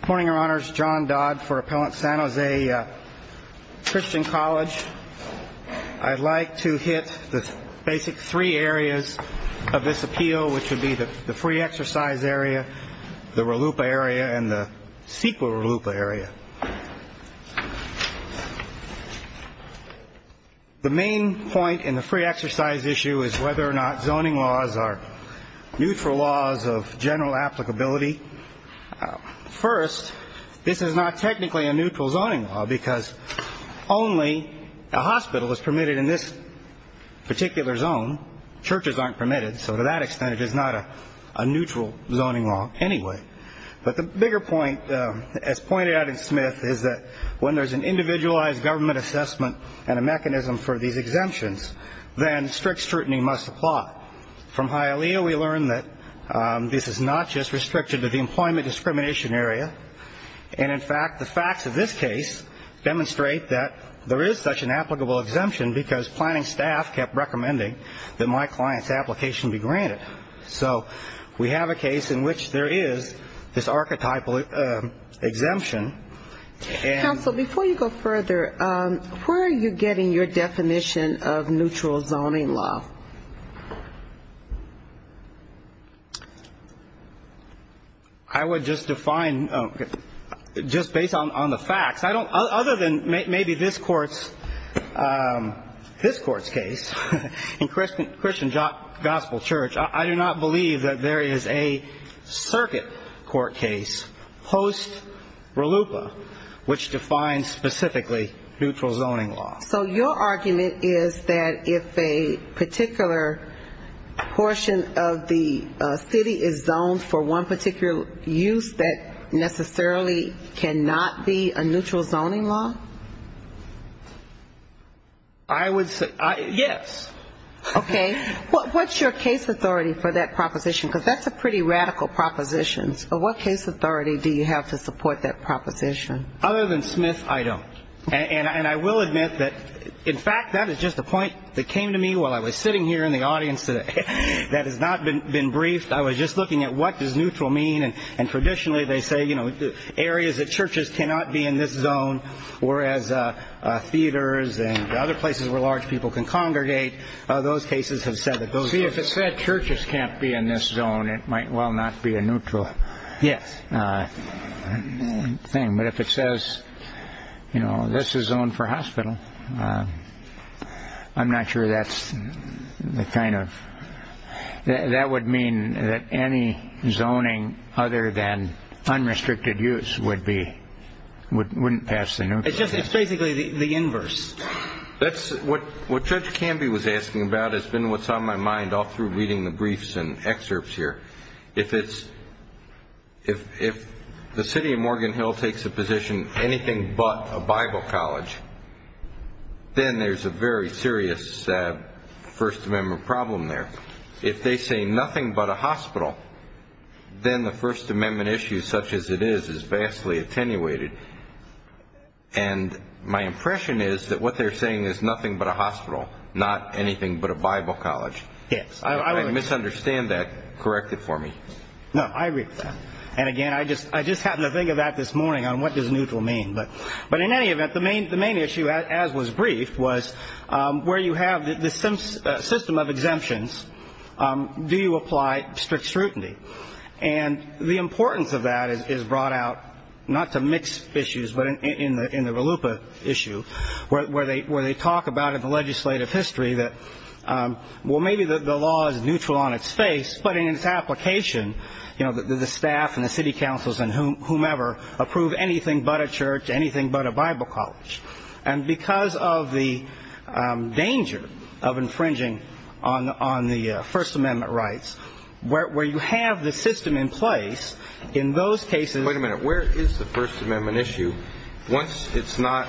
Good morning, Your Honors. John Dodd for Appellant San Jose Christian College. I'd like to hit the basic three areas of this appeal, which would be the free exercise area, the RELUPA area, and the CEQA RELUPA area. The main point in the free exercise issue is whether or not zoning laws are neutral laws of general applicability. First, this is not technically a neutral zoning law because only a hospital is permitted in this particular zone. Churches aren't permitted, so to that extent it is not a neutral zoning law anyway. But the bigger point, as pointed out in Smith, is that when there's an individualized government assessment and a mechanism for these exemptions, then strict scrutiny must apply. From Hialeah, we learned that this is not just restricted to the employment discrimination area. And, in fact, the facts of this case demonstrate that there is such an applicable exemption because planning staff kept recommending that my client's application be granted. So we have a case in which there is this archetypal exemption. Counsel, before you go further, where are you getting your definition of neutral zoning law? I would just define just based on the facts. Other than maybe this Court's case in Christian Gospel Church, I do not believe that there is a circuit court case post-Ralupa which defines specifically neutral zoning law. So your argument is that if a particular portion of the city is zoned for one particular use, that necessarily cannot be a neutral zoning law? I would say yes. Okay. What's your case authority for that proposition? Because that's a pretty radical proposition. What case authority do you have to support that proposition? Other than Smith, I don't. And I will admit that, in fact, that is just a point that came to me while I was sitting here in the audience today that has not been briefed. I was just looking at what does neutral mean. And traditionally they say, you know, areas that churches cannot be in this zone, whereas theaters and other places where large people can congregate, those cases have said that those... See, if it said churches can't be in this zone, it might well not be a neutral thing. Yes. But if it says, you know, this is zoned for hospital, I'm not sure that's the kind of... Other than unrestricted use wouldn't pass the neutral. It's basically the inverse. That's what Judge Canby was asking about. It's been what's on my mind all through reading the briefs and excerpts here. If the city of Morgan Hill takes a position, anything but a Bible college, then there's a very serious First Amendment problem there. If they say nothing but a hospital, then the First Amendment issue, such as it is, is vastly attenuated. And my impression is that what they're saying is nothing but a hospital, not anything but a Bible college. Yes. If I misunderstand that, correct it for me. No, I agree with that. And again, I just happened to think of that this morning on what does neutral mean. But in any event, the main issue, as was briefed, was where you have this system of exemptions, do you apply strict scrutiny? And the importance of that is brought out, not to mix issues, but in the Valupa issue, where they talk about in the legislative history that, well, maybe the law is neutral on its face, but in its application, the staff and the city councils and whomever approve anything but a church, anything but a Bible college. And because of the danger of infringing on the First Amendment rights, where you have the system in place, in those cases— Wait a minute. Where is the First Amendment issue? Once it's not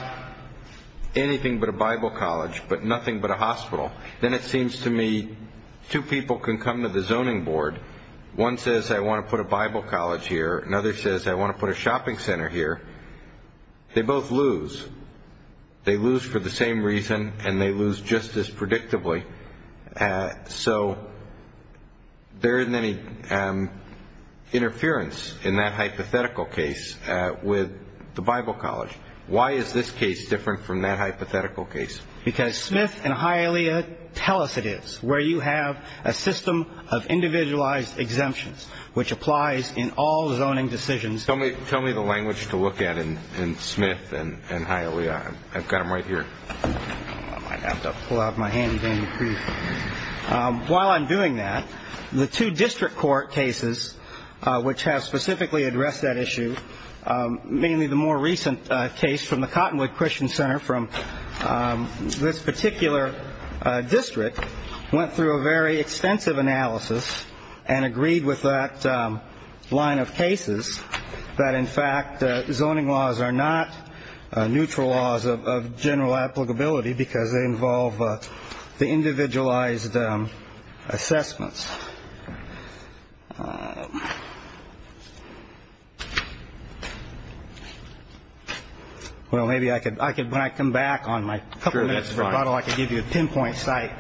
anything but a Bible college, but nothing but a hospital, then it seems to me two people can come to the zoning board. One says, I want to put a Bible college here. Another says, I want to put a shopping center here. They both lose. They lose for the same reason, and they lose just as predictably. So there isn't any interference in that hypothetical case with the Bible college. Why is this case different from that hypothetical case? Because Smith and Hialeah tell us it is, where you have a system of individualized exemptions, which applies in all zoning decisions. Tell me the language to look at in Smith and Hialeah. I've got them right here. I might have to pull out my handy-dandy proof. While I'm doing that, the two district court cases which have specifically addressed that issue, mainly the more recent case from the Cottonwood Christian Center from this particular district, went through a very extensive analysis and agreed with that line of cases that, in fact, zoning laws are not neutral laws of general applicability because they involve the individualized assessments. Well, maybe when I come back on my couple minutes of rebuttal, I can give you a pinpoint site.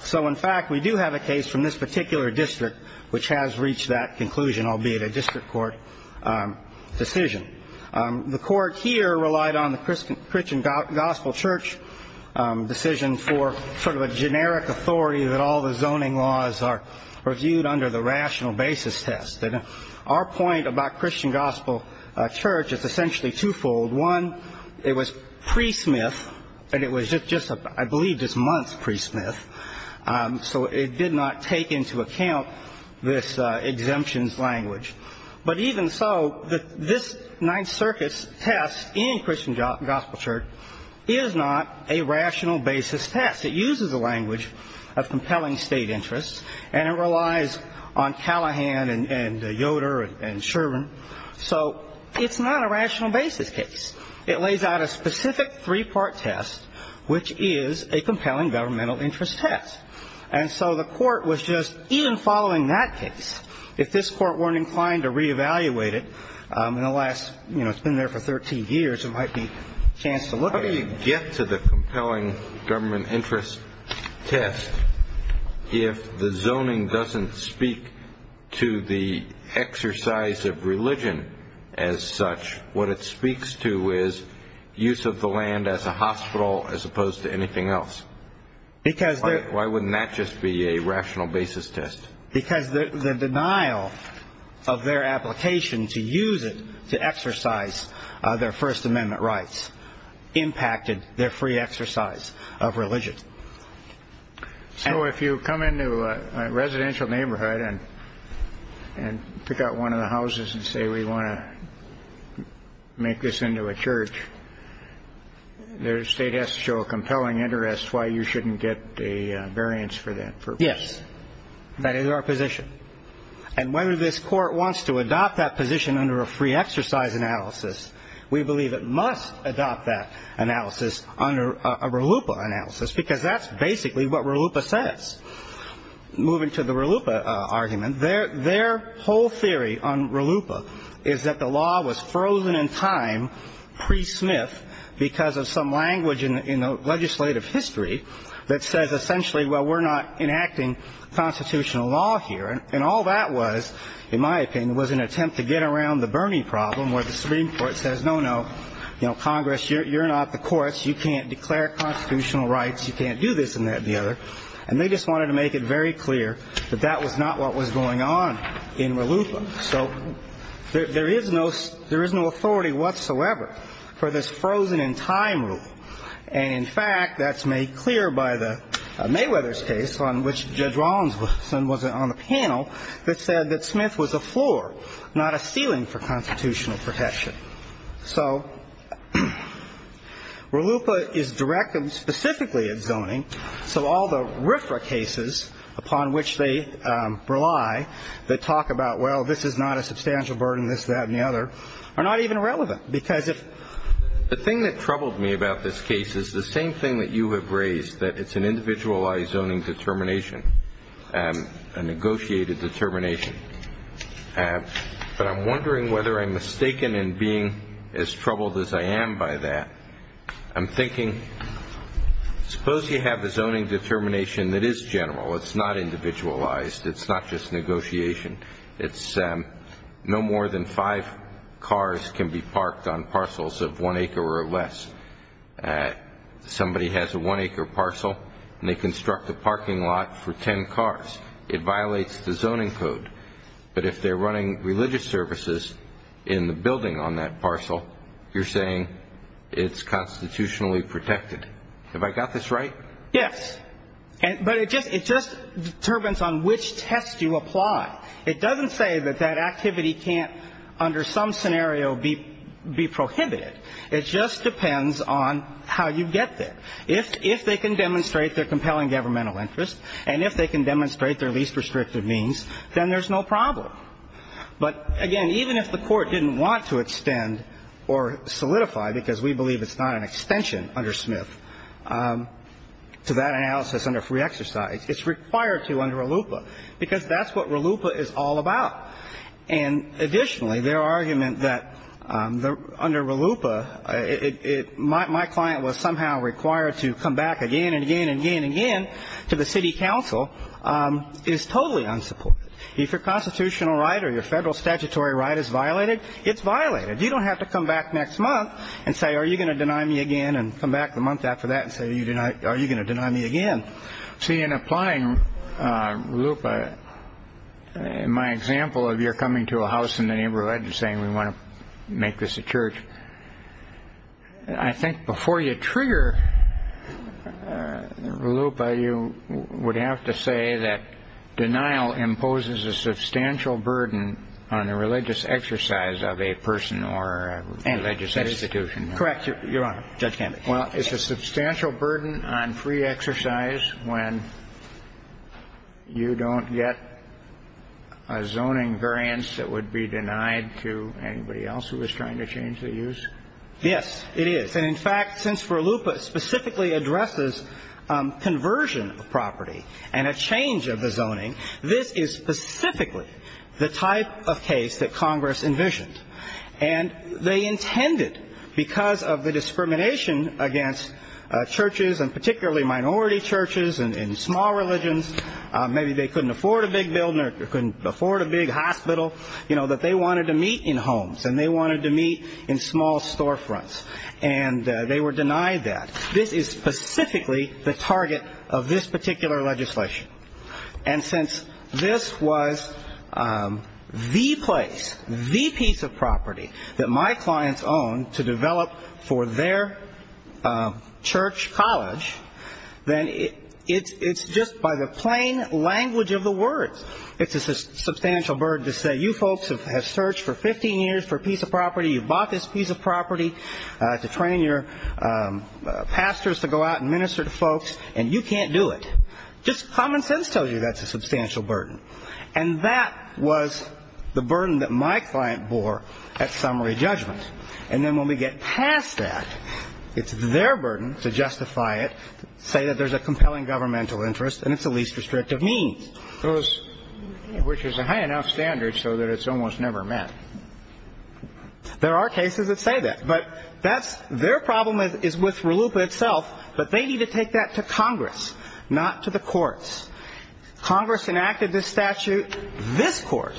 So, in fact, we do have a case from this particular district which has reached that conclusion, albeit a district court decision. The court here relied on the Christian Gospel Church decision for sort of a generic authority that all the zoning laws are reviewed under the rational basis test. Our point about Christian Gospel Church is essentially twofold. One, it was pre-Smith, and it was just, I believe, just months pre-Smith, so it did not take into account this exemptions language. But even so, this Ninth Circuit's test in Christian Gospel Church is not a rational basis test. It uses a language of compelling state interests, and it relies on Callahan and Yoder and Sherwin. So it's not a rational basis case. It lays out a specific three-part test, which is a compelling governmental interest test. And so the court was just, even following that case, if this court weren't inclined to reevaluate it in the last, you know, it's been there for 13 years, there might be a chance to look at it. When you get to the compelling government interest test, if the zoning doesn't speak to the exercise of religion as such, what it speaks to is use of the land as a hospital as opposed to anything else. Why wouldn't that just be a rational basis test? Because the denial of their application to use it to exercise their First Amendment rights impacted their free exercise of religion. So if you come into a residential neighborhood and pick out one of the houses and say, we want to make this into a church, their state has to show a compelling interest. Why you shouldn't get a variance for that? Yes. That is our position. And whether this court wants to adopt that position under a free exercise analysis, we believe it must adopt that analysis under a RLUIPA analysis, because that's basically what RLUIPA says. Moving to the RLUIPA argument, their whole theory on RLUIPA is that the law was frozen in time pre-Smith because of some language in the legislative history that says essentially, well, we're not enacting constitutional law here. And all that was, in my opinion, was an attempt to get around the Bernie problem, where the Supreme Court says, no, no, Congress, you're not the courts. You can't declare constitutional rights. You can't do this and that and the other. And they just wanted to make it very clear that that was not what was going on in RLUIPA. So there is no authority whatsoever for this frozen in time rule. And, in fact, that's made clear by the Mayweather's case on which Judge Rollins was on the panel that said that Smith was a floor, not a ceiling for constitutional protection. So RLUIPA is directed specifically at zoning. So all the RFRA cases upon which they rely that talk about, well, this is not a substantial burden, this, that, and the other are not even relevant because if the thing that troubled me about this case is the same thing that you have raised, that it's an individualized zoning determination, a negotiated determination. But I'm wondering whether I'm mistaken in being as troubled as I am by that. I'm thinking, suppose you have a zoning determination that is general. It's not individualized. It's not just negotiation. It's no more than five cars can be parked on parcels of one acre or less. Somebody has a one-acre parcel, and they construct a parking lot for ten cars. It violates the zoning code. But if they're running religious services in the building on that parcel, you're saying it's constitutionally protected. Have I got this right? Yes. But it just determines on which test you apply. It doesn't say that that activity can't under some scenario be prohibited. It just depends on how you get there. If they can demonstrate their compelling governmental interest and if they can demonstrate their least restrictive means, then there's no problem. But, again, even if the court didn't want to extend or solidify, because we believe it's not an extension under Smith to that analysis under free exercise, it's required to under RLUIPA because that's what RLUIPA is all about. And additionally, their argument that under RLUIPA, my client was somehow required to come back again and again and again and again to the city council is totally unsupported. If your constitutional right or your federal statutory right is violated, it's violated. You don't have to come back next month and say, are you going to deny me again and come back the month after that and say, are you going to deny me again? See, in applying RLUIPA, in my example of you're coming to a house in the neighborhood and saying we want to make this a church, I think before you trigger RLUIPA, you would have to say that denial imposes a substantial burden on a religious exercise of a person or a religious institution. Correct, Your Honor. Judge Gambach. Well, it's a substantial burden on free exercise when you don't get a zoning variance that would be denied to anybody else who is trying to change the use? Yes, it is. And in fact, since RLUIPA specifically addresses conversion of property and a change of the zoning, this is specifically the type of case that Congress envisioned. And they intended, because of the discrimination against churches and particularly minority churches and small religions, maybe they couldn't afford a big building or couldn't afford a big hospital, you know, that they wanted to meet in homes and they wanted to meet in small storefronts. And they were denied that. This is specifically the target of this particular legislation. And since this was the place, the piece of property that my clients owned to develop for their church college, then it's just by the plain language of the words. It's a substantial burden to say you folks have searched for 15 years for a piece of property, you bought this piece of property to train your pastors to go out and minister to folks, and you can't do it. Just common sense tells you that's a substantial burden. And that was the burden that my client bore at summary judgment. And then when we get past that, it's their burden to justify it, say that there's a compelling governmental interest and it's the least restrictive means, which is a high enough standard so that it's almost never met. There are cases that say that. But that's their problem is with RLUIPA itself, but they need to take that to Congress, not to the courts. Congress enacted this statute. This court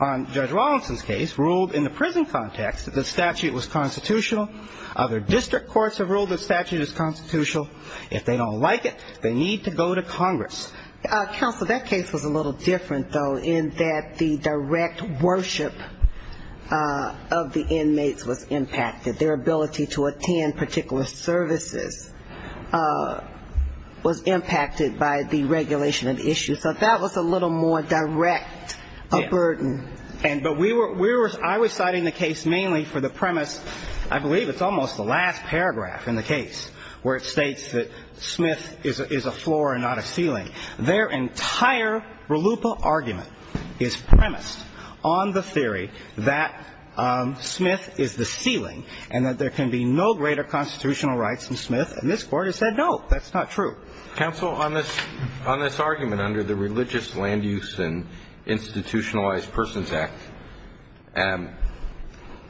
on Judge Rawlinson's case ruled in the prison context that the statute was constitutional. Other district courts have ruled the statute is constitutional. If they don't like it, they need to go to Congress. Counsel, that case was a little different, though, in that the direct worship of the inmates was impacted. Their ability to attend particular services was impacted by the regulation of the issue. So that was a little more direct a burden. I was citing the case mainly for the premise, I believe it's almost the last paragraph in the case, where it states that Smith is a floor and not a ceiling. Their entire RLUIPA argument is premised on the theory that Smith is the ceiling and that there can be no greater constitutional rights than Smith. And this Court has said, no, that's not true. Counsel, on this argument under the Religious Land Use and Institutionalized Persons Act,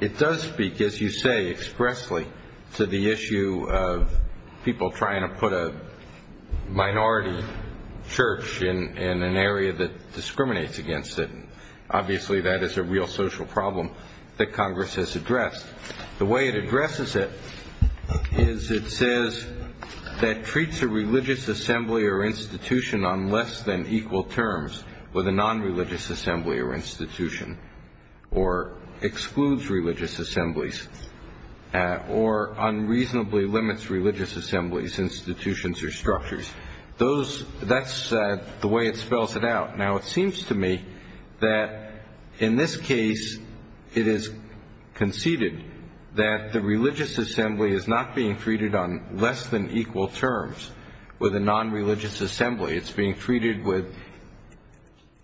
it does speak, as you say expressly, to the issue of people trying to put a minority church in an area that discriminates against it. Obviously, that is a real social problem that Congress has addressed. The way it addresses it is it says that treats a religious assembly or institution on less than equal terms with a nonreligious assembly or institution, or excludes religious assemblies, or unreasonably limits religious assemblies, institutions, or structures. That's the way it spells it out. Now, it seems to me that in this case it is conceded that the religious assembly is not being treated on less than equal terms with a nonreligious assembly. It's being treated with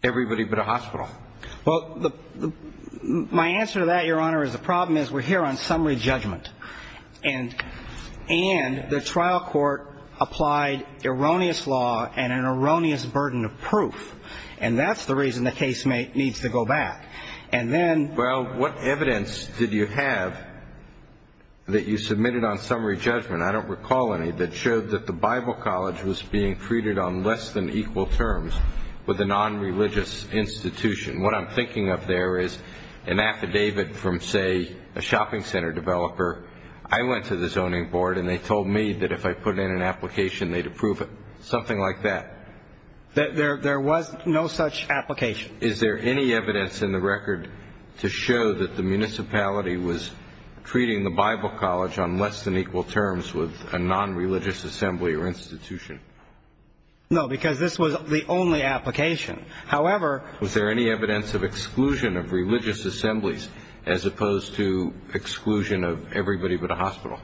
everybody but a hospital. Well, my answer to that, Your Honor, is the problem is we're here on summary judgment. And the trial court applied erroneous law and an erroneous burden of proof. And that's the reason the case needs to go back. Well, what evidence did you have that you submitted on summary judgment, I don't recall any, that showed that the Bible college was being treated on less than equal terms with a nonreligious institution? What I'm thinking of there is an affidavit from, say, a shopping center developer. I went to the zoning board, and they told me that if I put in an application, they'd approve it, something like that. There was no such application. Is there any evidence in the record to show that the municipality was treating the Bible college on less than equal terms with a nonreligious assembly or institution? No, because this was the only application. However, was there any evidence of exclusion of religious assemblies as opposed to exclusion of everybody but a hospital?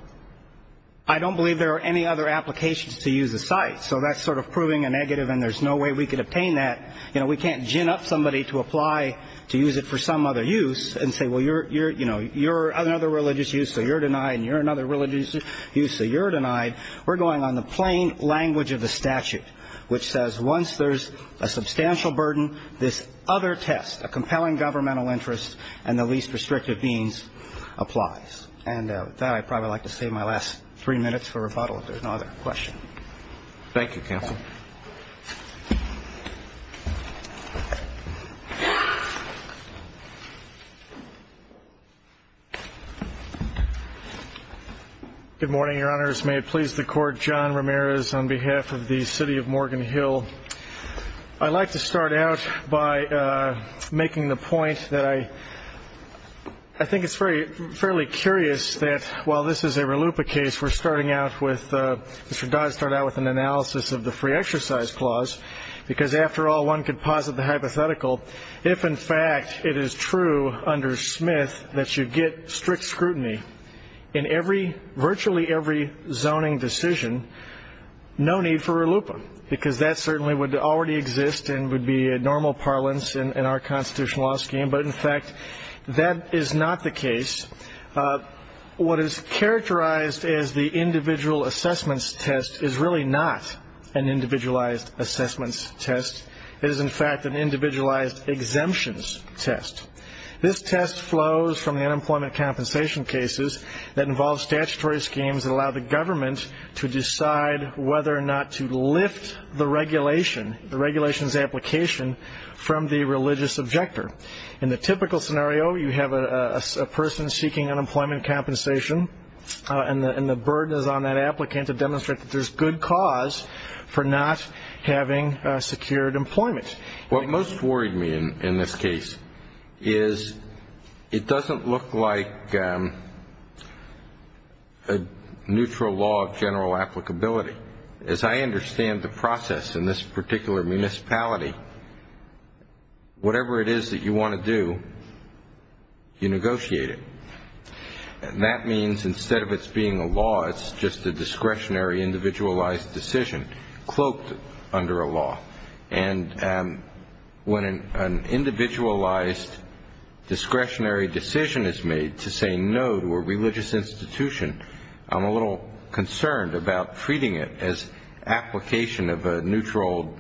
I don't believe there are any other applications to use the site. So that's sort of proving a negative, and there's no way we could obtain that. We can't gin up somebody to apply to use it for some other use and say, well, you're another religious use, so you're denied, and you're another religious use, so you're denied. We're going on the plain language of the statute, which says once there's a substantial burden, this other test, a compelling governmental interest and the least restrictive means, applies. And with that, I'd probably like to save my last three minutes for rebuttal, if there's no other question. Thank you, counsel. Good morning, Your Honors. May it please the Court, John Ramirez on behalf of the city of Morgan Hill. I'd like to start out by making the point that I think it's fairly curious that while this is a RLUIPA case, Mr. Dodd started out with an analysis of the free exercise clause, because after all, one could posit the hypothetical. If, in fact, it is true under Smith that you get strict scrutiny in virtually every zoning decision, no need for RLUIPA, because that certainly would already exist and would be a normal parlance in our constitutional law scheme. But, in fact, that is not the case. What is characterized as the individual assessments test is really not an individualized assessments test. It is, in fact, an individualized exemptions test. This test flows from the unemployment compensation cases that involve statutory schemes that allow the government to decide whether or not to lift the regulation, the regulation's application, from the religious objector. In the typical scenario, you have a person seeking unemployment compensation, and the burden is on that applicant to demonstrate that there's good cause for not having secured employment. What most worried me in this case is it doesn't look like a neutral law of general applicability. As I understand the process in this particular municipality, whatever it is that you want to do, you negotiate it. And that means instead of it being a law, it's just a discretionary individualized decision cloaked under a law. And when an individualized discretionary decision is made to say no to a religious institution, I'm a little concerned about treating it as application of a neutral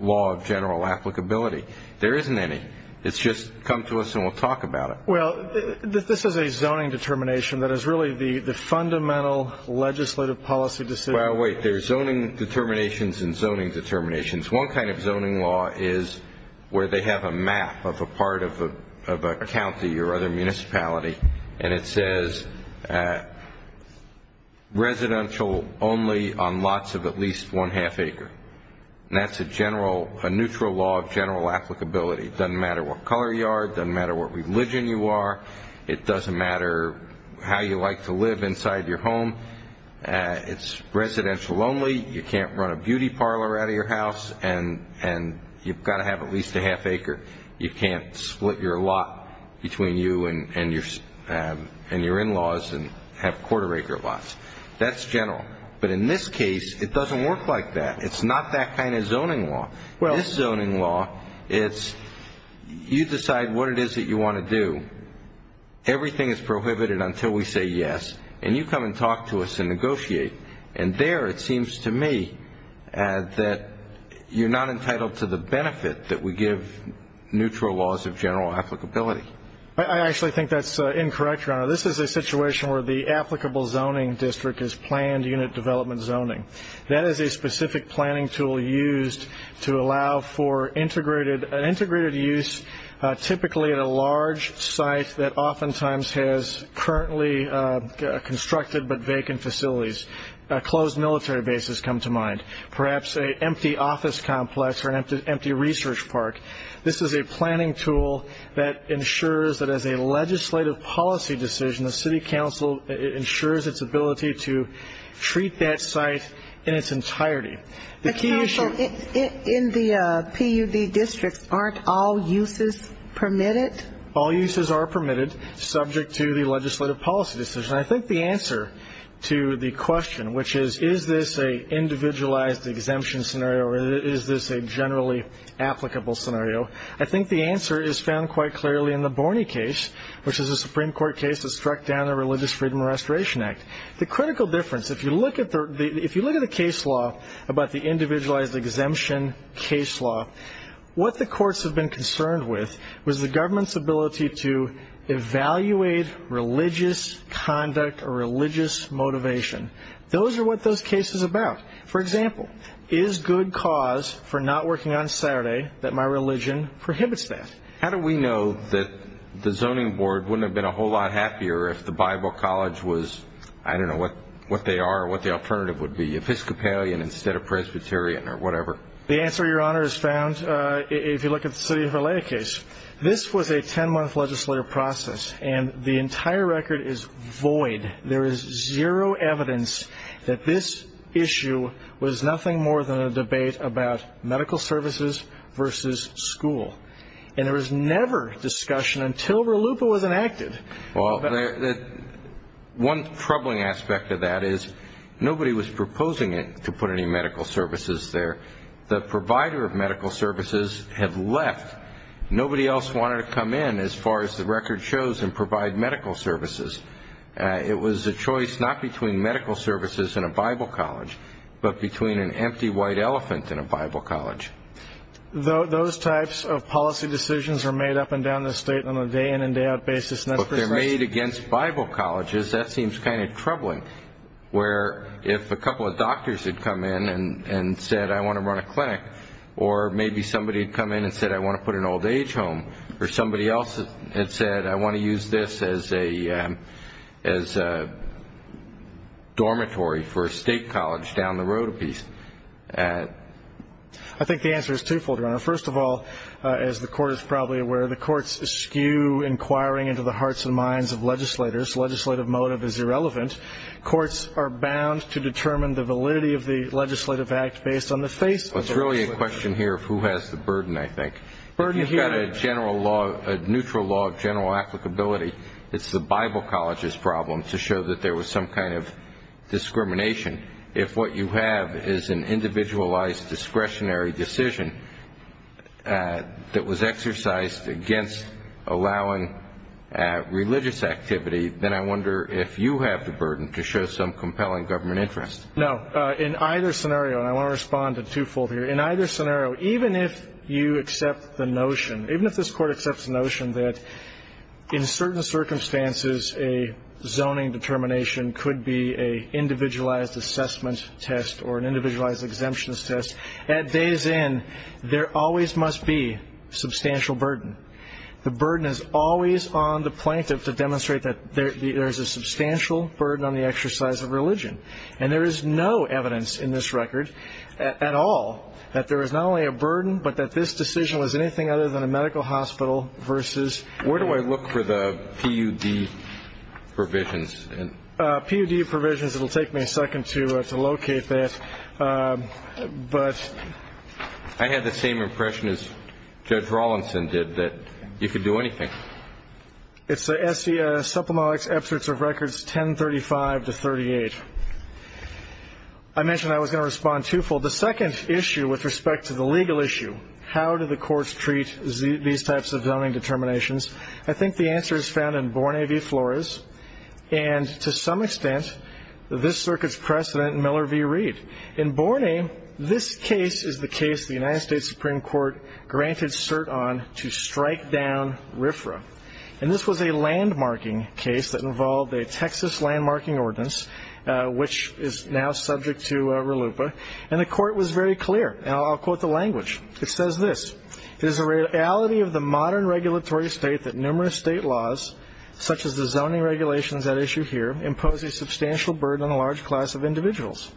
law of general applicability. There isn't any. It's just come to us and we'll talk about it. Well, this is a zoning determination that is really the fundamental legislative policy decision. Well, wait, there's zoning determinations and zoning determinations. One kind of zoning law is where they have a map of a part of a county or other municipality, and it says residential only on lots of at least one-half acre. And that's a neutral law of general applicability. It doesn't matter what color you are. It doesn't matter what religion you are. It doesn't matter how you like to live inside your home. It's residential only. You can't run a beauty parlor out of your house, and you've got to have at least a half acre. You can't split your lot between you and your in-laws and have quarter acre lots. That's general. But in this case, it doesn't work like that. It's not that kind of zoning law. This zoning law, it's you decide what it is that you want to do. Everything is prohibited until we say yes, and you come and talk to us and negotiate. And there it seems to me that you're not entitled to the benefit that we give neutral laws of general applicability. I actually think that's incorrect, Your Honor. This is a situation where the applicable zoning district is planned unit development zoning. That is a specific planning tool used to allow for integrated use, typically at a large site that oftentimes has currently constructed but vacant facilities. Closed military bases come to mind. Perhaps an empty office complex or an empty research park. This is a planning tool that ensures that as a legislative policy decision, the city council ensures its ability to treat that site in its entirety. But, counsel, in the PUD districts, aren't all uses permitted? All uses are permitted subject to the legislative policy decision. I think the answer to the question, which is, is this an individualized exemption scenario or is this a generally applicable scenario, I think the answer is found quite clearly in the Borney case, which is a Supreme Court case that struck down the Religious Freedom and Restoration Act. The critical difference, if you look at the case law about the individualized exemption case law, what the courts have been concerned with was the government's ability to evaluate religious conduct or religious motivation. Those are what those cases are about. For example, is good cause for not working on Saturday that my religion prohibits that? How do we know that the zoning board wouldn't have been a whole lot happier if the Bible College was, I don't know what they are or what the alternative would be, Episcopalian instead of Presbyterian or whatever? The answer, Your Honor, is found if you look at the city of L.A. case. This was a 10-month legislative process, and the entire record is void. There is zero evidence that this issue was nothing more than a debate about medical services versus school. And there was never discussion until RLUIPA was enacted. Well, one troubling aspect of that is nobody was proposing to put any medical services there. The provider of medical services had left. Nobody else wanted to come in, as far as the record shows, and provide medical services. It was a choice not between medical services and a Bible college, but between an empty white elephant and a Bible college. Those types of policy decisions are made up and down the state on a day-in and day-out basis. But they're made against Bible colleges. That seems kind of troubling, where if a couple of doctors had come in and said, I want to run a clinic, or maybe somebody had come in and said, I want to put an old-age home, or somebody else had said, I want to use this as a dormitory for a state college down the road a piece. I think the answer is twofold, Ronald. First of all, as the Court is probably aware, the courts skew inquiring into the hearts and minds of legislators. Legislative motive is irrelevant. Courts are bound to determine the validity of the legislative act based on the face of the legislature. It's really a question here of who has the burden, I think. If you've got a neutral law of general applicability, it's the Bible college's problem to show that there was some kind of discrimination. If what you have is an individualized discretionary decision that was exercised against allowing religious activity, then I wonder if you have the burden to show some compelling government interest. No. In either scenario, and I want to respond to twofold here, in either scenario, even if you accept the notion, even if this Court accepts the notion that in certain circumstances, a zoning determination could be an individualized assessment test or an individualized exemptions test, at days in, there always must be substantial burden. The burden is always on the plaintiff to demonstrate that there is a substantial burden on the exercise of religion. And there is no evidence in this record at all that there is not only a burden, but that this decision was anything other than a medical hospital versus – Provisions. PUD provisions. It will take me a second to locate that. But – I had the same impression as Judge Rawlinson did, that you could do anything. It's Supplemental Excerpts of Records 1035-38. I mentioned I was going to respond twofold. The second issue with respect to the legal issue, how do the courts treat these types of zoning determinations, I think the answer is found in Borne v. Flores, and to some extent, this Circuit's precedent in Miller v. Reed. In Borne, this case is the case the United States Supreme Court granted cert on to strike down RFRA. And this was a landmarking case that involved a Texas landmarking ordinance, which is now subject to RLUIPA. And the Court was very clear, and I'll quote the language. It says this, It is the reality of the modern regulatory state that numerous state laws, such as the zoning regulations at issue here, impose a substantial burden on a large class of individuals.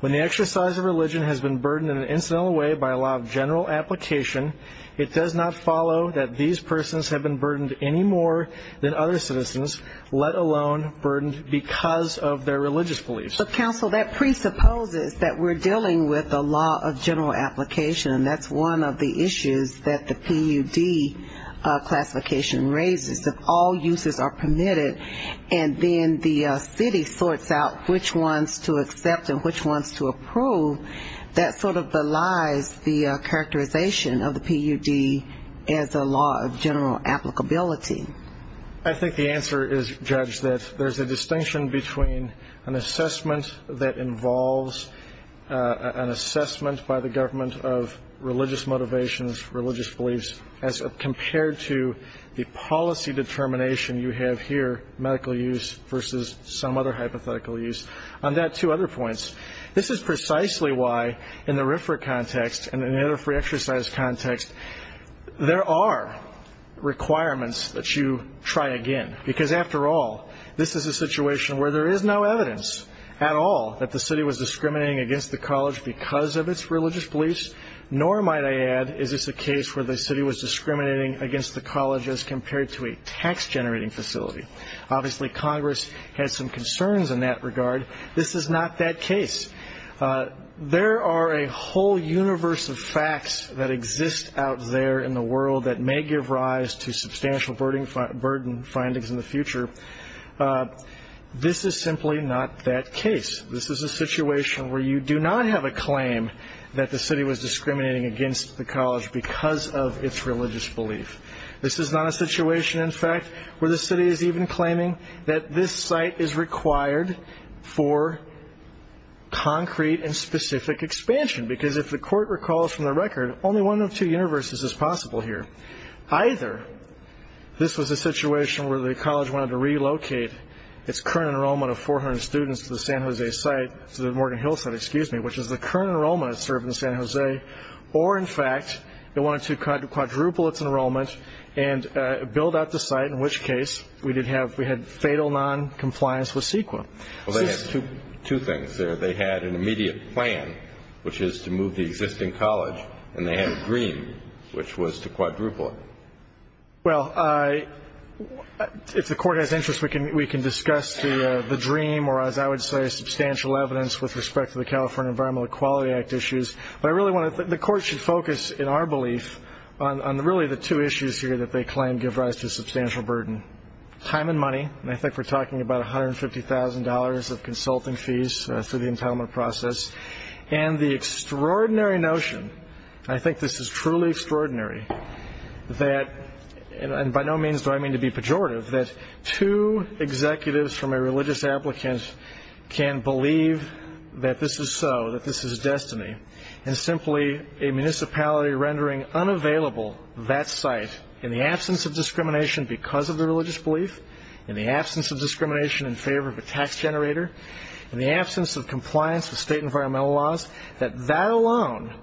When the exercise of religion has been burdened in an incidental way by a law of general application, it does not follow that these persons have been burdened any more than other citizens, let alone burdened because of their religious beliefs. So, counsel, that presupposes that we're dealing with a law of general application, and that's one of the issues that the PUD classification raises. If all uses are permitted and then the city sorts out which ones to accept and which ones to approve, that sort of belies the characterization of the PUD as a law of general applicability. I think the answer is, Judge, that there's a distinction between an assessment that involves an assessment by the government of religious motivations, religious beliefs, as compared to the policy determination you have here, medical use versus some other hypothetical use. On that, two other points. This is precisely why, in the RFRA context and in the NFRA exercise context, there are requirements that you try again. Because, after all, this is a situation where there is no evidence at all that the city was discriminating against the college because of its religious beliefs, nor, might I add, is this a case where the city was discriminating against the college as compared to a tax-generating facility. Obviously, Congress has some concerns in that regard. This is not that case. There are a whole universe of facts that exist out there in the world that may give rise to substantial burden findings in the future. This is simply not that case. This is a situation where you do not have a claim that the city was discriminating against the college because of its religious belief. This is not a situation, in fact, where the city is even claiming that this site is required for concrete and specific expansion. Because, if the court recalls from the record, only one of two universes is possible here. Either this was a situation where the college wanted to relocate its current enrollment of 400 students to the San Jose site, to the Morgan Hill site, excuse me, which is the current enrollment that served in San Jose, or, in fact, they wanted to quadruple its enrollment and build out the site, in which case we had fatal noncompliance with CEQA. Well, they had two things there. They had an immediate plan, which is to move the existing college, and they had a dream, which was to quadruple it. Well, if the court has interest, we can discuss the dream or, as I would say, substantial evidence with respect to the California Environmental Equality Act issues. But the court should focus, in our belief, on really the two issues here that they claim give rise to substantial burden. Time and money, and I think we're talking about $150,000 of consulting fees through the entitlement process. And the extraordinary notion, and I think this is truly extraordinary, and by no means do I mean to be pejorative, that two executives from a religious applicant can believe that this is so, that this is destiny, and simply a municipality rendering unavailable that site in the absence of discrimination because of the religious belief, in the absence of discrimination in favor of a tax generator, in the absence of compliance with state environmental laws, that that alone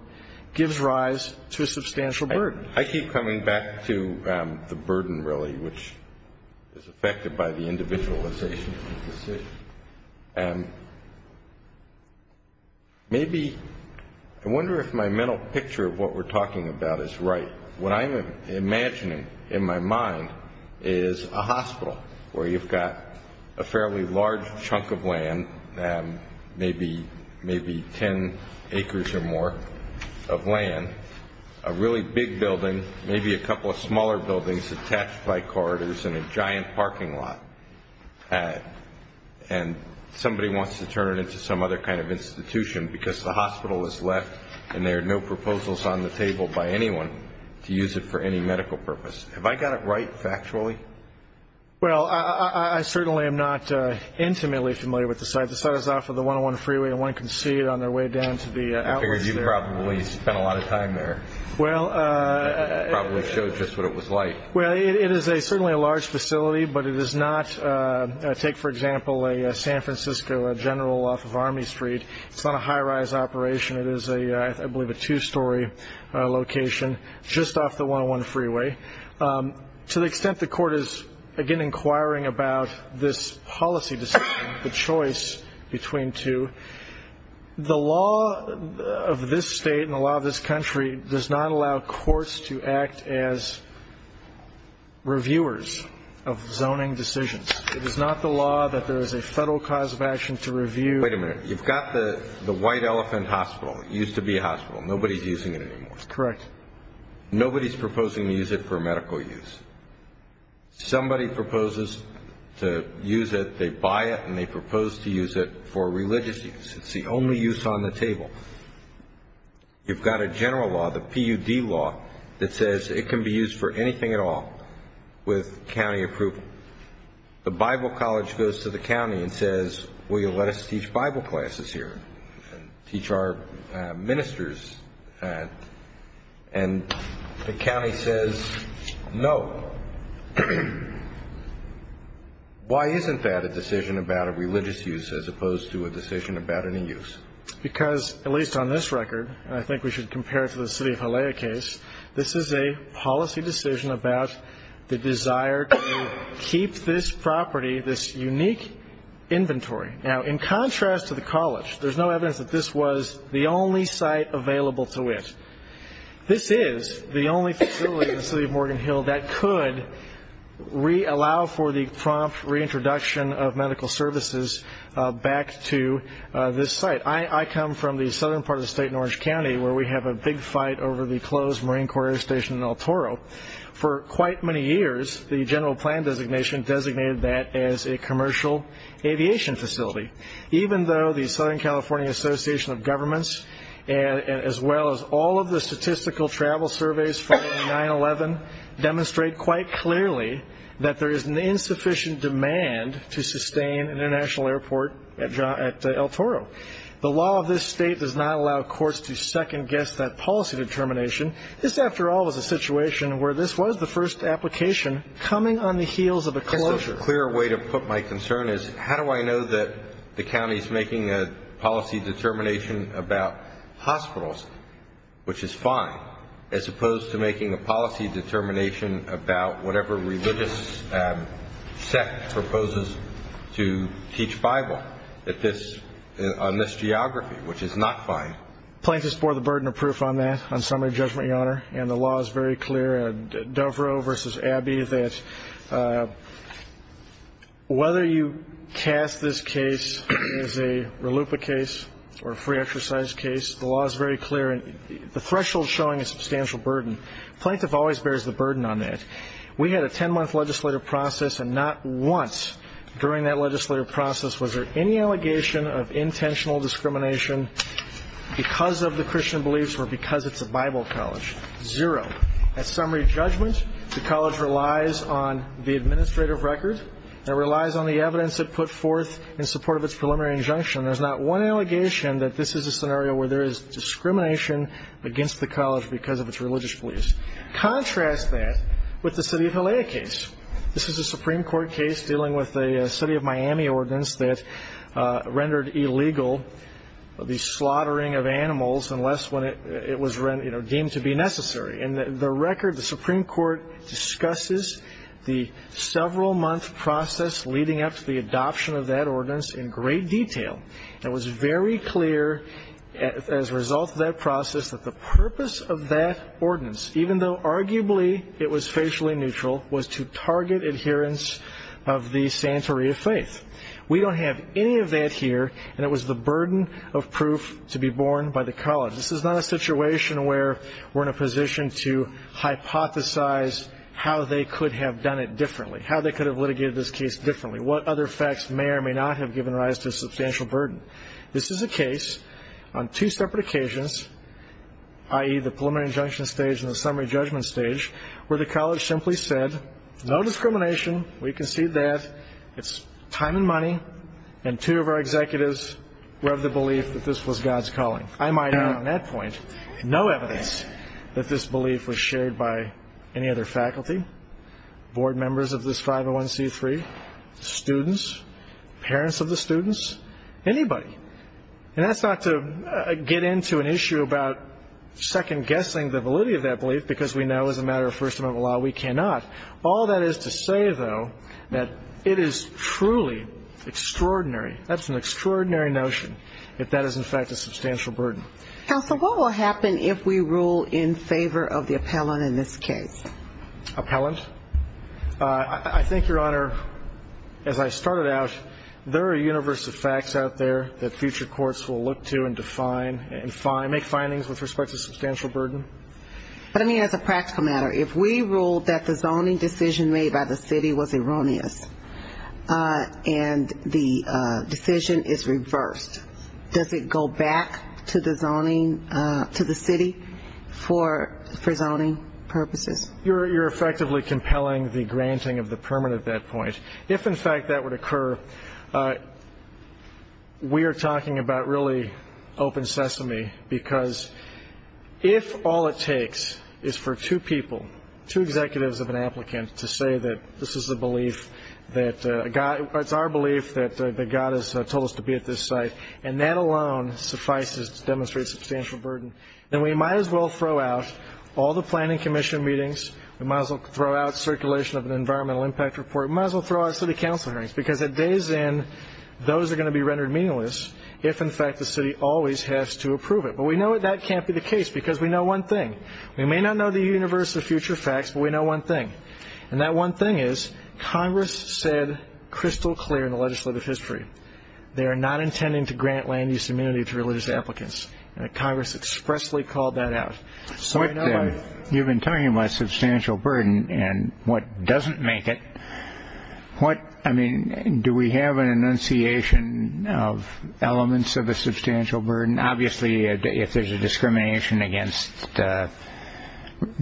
gives rise to a substantial burden. I keep coming back to the burden, really, which is affected by the individualization of the city. Maybe, I wonder if my mental picture of what we're talking about is right. What I'm imagining in my mind is a hospital where you've got a fairly large chunk of land, maybe 10 acres or more of land, a really big building, maybe a couple of smaller buildings attached by corridors and a giant parking lot, and somebody wants to turn it into some other kind of institution because the hospital is left and there are no proposals on the table by anyone to use it for any medical purpose. Have I got it right factually? Well, I certainly am not intimately familiar with the site. The site is off of the 101 freeway, and one can see it on their way down to the outlets there. I figured you probably spent a lot of time there, probably showed just what it was like. Well, it is certainly a large facility, but it is not, take, for example, a San Francisco general off of Army Street. It's not a high-rise operation. It is, I believe, a two-story location just off the 101 freeway. To the extent the court is, again, inquiring about this policy decision, the choice between two, the law of this state and the law of this country does not allow courts to act as reviewers of zoning decisions. It is not the law that there is a federal cause of action to review. Wait a minute. You've got the White Elephant Hospital. It used to be a hospital. Nobody is using it anymore. Correct. Nobody is proposing to use it for medical use. Somebody proposes to use it, they buy it, and they propose to use it for religious use. It's the only use on the table. You've got a general law, the PUD law, that says it can be used for anything at all with county approval. The Bible College goes to the county and says, will you let us teach Bible classes here and teach our ministers? And the county says, no. Why isn't that a decision about a religious use as opposed to a decision about any use? Because, at least on this record, and I think we should compare it to the city of Halea case, this is a policy decision about the desire to keep this property, this unique inventory. Now, in contrast to the college, there's no evidence that this was the only site available to it. This is the only facility in the city of Morgan Hill that could allow for the prompt reintroduction of medical services back to this site. I come from the southern part of the state in Orange County where we have a big fight over the closed Marine Corps Air Station in El Toro. For quite many years, the general plan designation designated that as a commercial aviation facility, even though the Southern California Association of Governments, as well as all of the statistical travel surveys from 9-11, demonstrate quite clearly that there is an insufficient demand to sustain an international airport at El Toro. The law of this state does not allow courts to second-guess that policy determination. This, after all, is a situation where this was the first application coming on the heels of a closure. I guess a clearer way to put my concern is how do I know that the county is making a policy determination about hospitals, which is fine, as opposed to making a policy determination about whatever religious sect proposes to teach Bible on this geography, which is not fine. Plaintiffs bore the burden of proof on that, on summary judgment, Your Honor. And the law is very clear, Doverell v. Abbey, that whether you cast this case as a RLUIPA case or a free exercise case, the law is very clear, and the threshold is showing a substantial burden. Plaintiff always bears the burden on that. We had a 10-month legislative process, and not once during that legislative process was there any allegation of intentional discrimination because of the Christian beliefs or because it's a Bible college. Zero. At summary judgment, the college relies on the administrative record. It relies on the evidence it put forth in support of its preliminary injunction. There's not one allegation that this is a scenario where there is discrimination against the college because of its religious beliefs. Contrast that with the city of Halea case. This is a Supreme Court case dealing with a city of Miami ordinance that rendered illegal the slaughtering of animals unless it was deemed to be necessary. And the record, the Supreme Court discusses the several-month process leading up to the adoption of that ordinance in great detail. It was very clear as a result of that process that the purpose of that ordinance, even though arguably it was facially neutral, was to target adherence of the Santeria faith. We don't have any of that here, and it was the burden of proof to be borne by the college. This is not a situation where we're in a position to hypothesize how they could have done it differently, how they could have litigated this case differently, what other facts may or may not have given rise to a substantial burden. This is a case on two separate occasions, i.e., the preliminary injunction stage and the summary judgment stage, where the college simply said, no discrimination, we concede that, it's time and money, and two of our executives were of the belief that this was God's calling. I might add on that point, no evidence that this belief was shared by any other faculty, board members of this 501C3, students, parents of the students, anybody. And that's not to get into an issue about second-guessing the validity of that belief because we know as a matter of First Amendment law we cannot. All that is to say, though, that it is truly extraordinary, that's an extraordinary notion, that that is in fact a substantial burden. Counsel, what will happen if we rule in favor of the appellant in this case? Appellant? I think, Your Honor, as I started out, there are a universe of facts out there that future courts will look to and define and make findings with respect to substantial burden. But, I mean, as a practical matter, if we ruled that the zoning decision made by the city was erroneous and the decision is reversed, does it go back to the zoning, to the city for zoning purposes? You're effectively compelling the granting of the permit at that point. If, in fact, that would occur, we are talking about really open sesame because if all it takes is for two people, two executives of an applicant, to say that this is a belief that God, it's our belief that God has told us to be at this site and that alone suffices to demonstrate substantial burden, then we might as well throw out all the planning commission meetings. We might as well throw out circulation of an environmental impact report. We might as well throw out city council hearings because at day's end those are going to be rendered meaningless if, in fact, the city always has to approve it. But we know that that can't be the case because we know one thing. We may not know the universe of future facts, but we know one thing, and that one thing is Congress said crystal clear in the legislative history they are not intending to grant land use immunity to religious applicants. Congress expressly called that out. You've been talking about substantial burden and what doesn't make it. I mean, do we have an enunciation of elements of a substantial burden? I mean, obviously, if there's a discrimination against the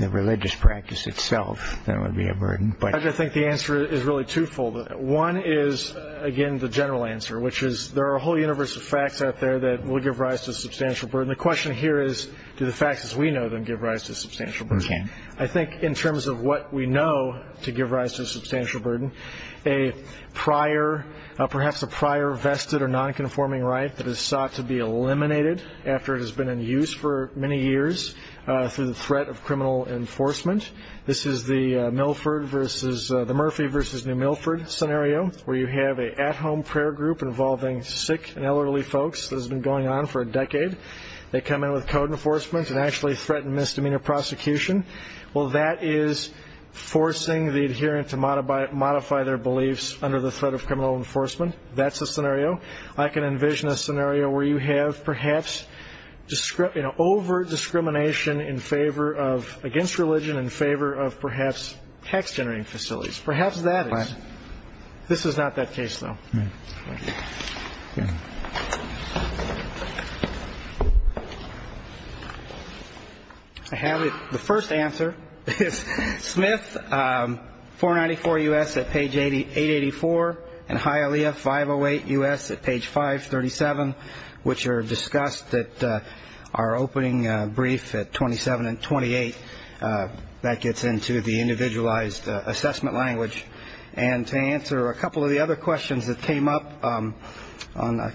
religious practice itself, then it would be a burden. I think the answer is really twofold. One is, again, the general answer, which is there are a whole universe of facts out there that will give rise to substantial burden. The question here is do the facts as we know them give rise to substantial burden. I think in terms of what we know to give rise to substantial burden, perhaps a prior vested or nonconforming right that is sought to be eliminated after it has been in use for many years through the threat of criminal enforcement. This is the Murphy v. New Milford scenario, where you have an at-home prayer group involving sick and elderly folks. This has been going on for a decade. They come in with code enforcement and actually threaten misdemeanor prosecution. Well, that is forcing the adherent to modify their beliefs under the threat of criminal enforcement. That's a scenario. I can envision a scenario where you have perhaps over-discrimination against religion in favor of perhaps tax-generating facilities. Perhaps that is. This is not that case, though. I have it. The first answer is Smith, 494 U.S. at page 884, and Hialeah, 508 U.S. at page 537, which are discussed at our opening brief at 27 and 28. That gets into the individualized assessment language. And to answer a couple of the other questions that came up on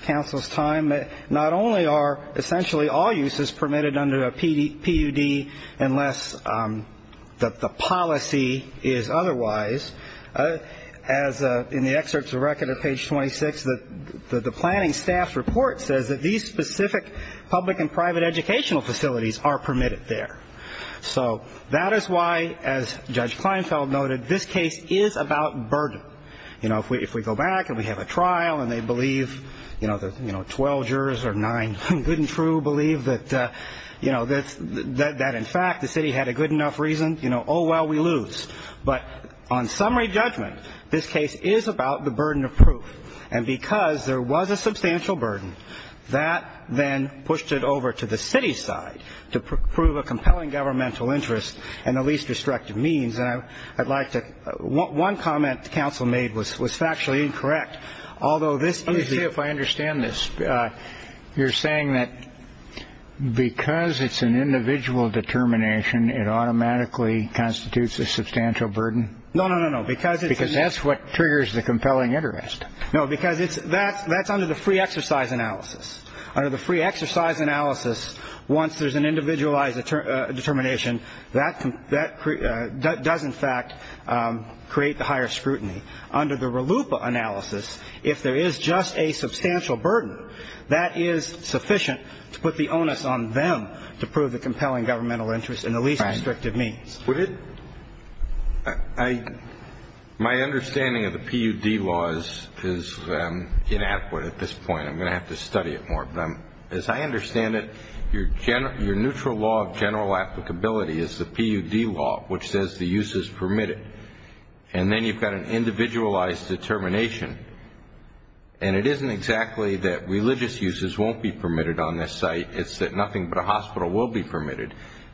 counsel's time, not only are essentially all uses permitted under a PUD unless the policy is otherwise, as in the excerpts of record at page 26, the planning staff's report says that these specific public and private educational facilities are permitted there. So that is why, as Judge Kleinfeld noted, this case is about burden. You know, if we go back and we have a trial and they believe, you know, the 12 jurors or nine good and true believe that, you know, that in fact the city had a good enough reason, you know, oh, well, we lose. But on summary judgment, this case is about the burden of proof. And because there was a substantial burden, that then pushed it over to the city side to prove a compelling governmental interest and the least destructive means that I'd like to. One comment the council made was was factually incorrect. Although this is if I understand this. You're saying that because it's an individual determination, it automatically constitutes a substantial burden. No, no, no, no. Because because that's what triggers the compelling interest. No, because that's under the free exercise analysis. Under the free exercise analysis, once there's an individualized determination, that does in fact create the higher scrutiny. Under the RLUIPA analysis, if there is just a substantial burden, that is sufficient to put the onus on them to prove the compelling governmental interest and the least destructive means. My understanding of the PUD laws is inadequate at this point. I'm going to have to study it more. But as I understand it, your neutral law of general applicability is the PUD law, which says the use is permitted. And then you've got an individualized determination. And it isn't exactly that religious uses won't be permitted on this site. It's that nothing but a hospital will be permitted.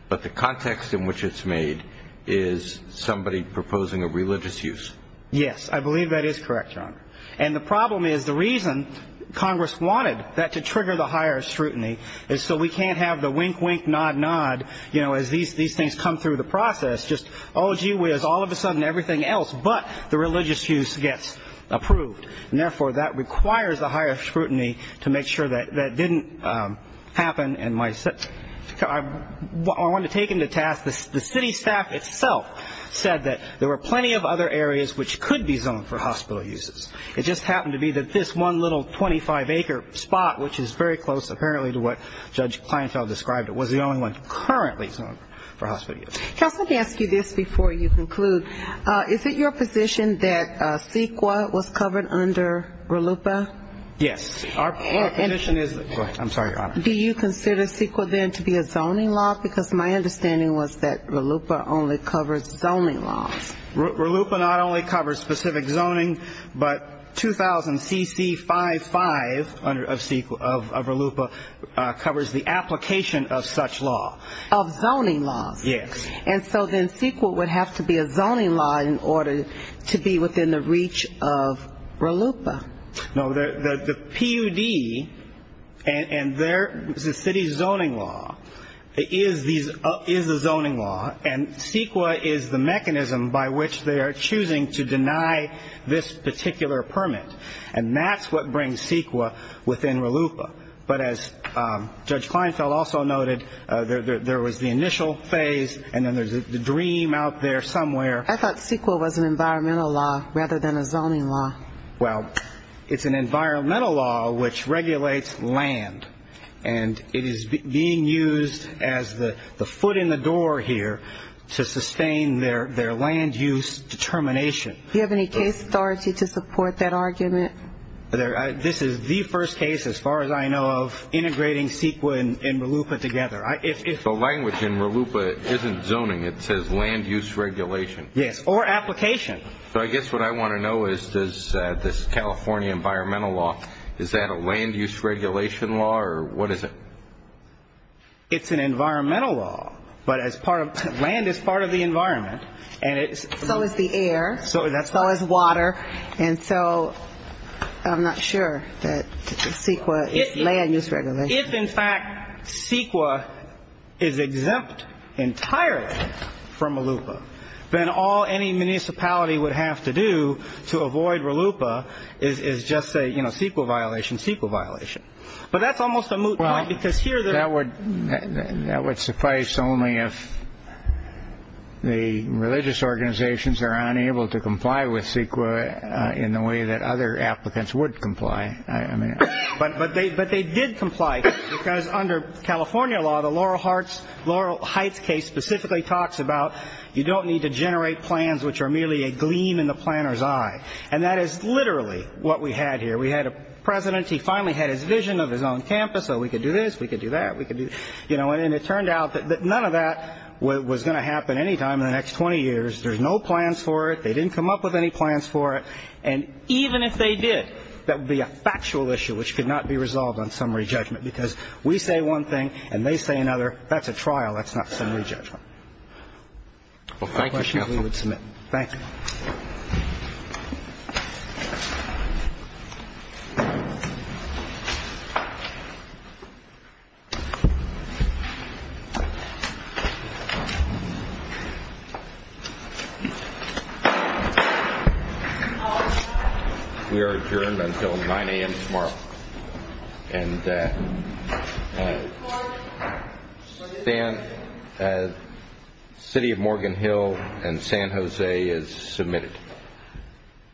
But the context in which it's made is somebody proposing a religious use. Yes, I believe that is correct, Your Honor. And the problem is the reason Congress wanted that to trigger the higher scrutiny is so we can't have the wink, wink, nod, nod, you know, as these things come through the process, just, oh, gee whiz, all of a sudden everything else but the religious use gets approved. And therefore, that requires a higher scrutiny to make sure that that didn't happen. And I want to take into task the city staff itself said that there were plenty of other areas which could be zoned for hospital uses. It just happened to be that this one little 25-acre spot, which is very close apparently to what Judge Kleinfeld described, was the only one currently zoned for hospital uses. Counsel, let me ask you this before you conclude. Is it your position that CEQA was covered under RLUIPA? Yes. Our position is that go ahead. I'm sorry, Your Honor. Do you consider CEQA then to be a zoning law? Because my understanding was that RLUIPA only covers zoning laws. RLUIPA not only covers specific zoning, but 2000CC55 of RLUIPA covers the application of such law. Of zoning laws? Yes. And so then CEQA would have to be a zoning law in order to be within the reach of RLUIPA. No. The PUD and the city's zoning law is a zoning law, and CEQA is the mechanism by which they are choosing to deny this particular permit. And that's what brings CEQA within RLUIPA. But as Judge Kleinfeld also noted, there was the initial phase, and then there's the dream out there somewhere. I thought CEQA was an environmental law rather than a zoning law. Well, it's an environmental law which regulates land, and it is being used as the foot in the door here to sustain their land use determination. Do you have any case authority to support that argument? This is the first case, as far as I know, of integrating CEQA and RLUIPA together. The language in RLUIPA isn't zoning. It says land use regulation. Yes, or application. So I guess what I want to know is does this California environmental law, is that a land use regulation law or what is it? It's an environmental law, but land is part of the environment. So is the air. So is that. So is water. And so I'm not sure that CEQA is land use regulation. If, in fact, CEQA is exempt entirely from RLUIPA, then all any municipality would have to do to avoid RLUIPA is just say, you know, CEQA violation, CEQA violation. But that's almost a moot point because here they're. That would suffice only if the religious organizations are unable to comply with CEQA in the way that other applicants would comply. But they did comply because under California law, the Laurel Heights case specifically talks about you don't need to generate plans which are merely a gleam in the planner's eye. And that is literally what we had here. We had a president. He finally had his vision of his own campus. So we could do this. We could do that. We could do, you know. And it turned out that none of that was going to happen any time in the next 20 years. There's no plans for it. They didn't come up with any plans for it. And even if they did, that would be a factual issue which could not be resolved on summary judgment because we say one thing and they say another. That's a trial. That's not summary judgment. Thank you. We are adjourned until 9 a.m. tomorrow. And City of Morgan Hill and San Jose is submitted.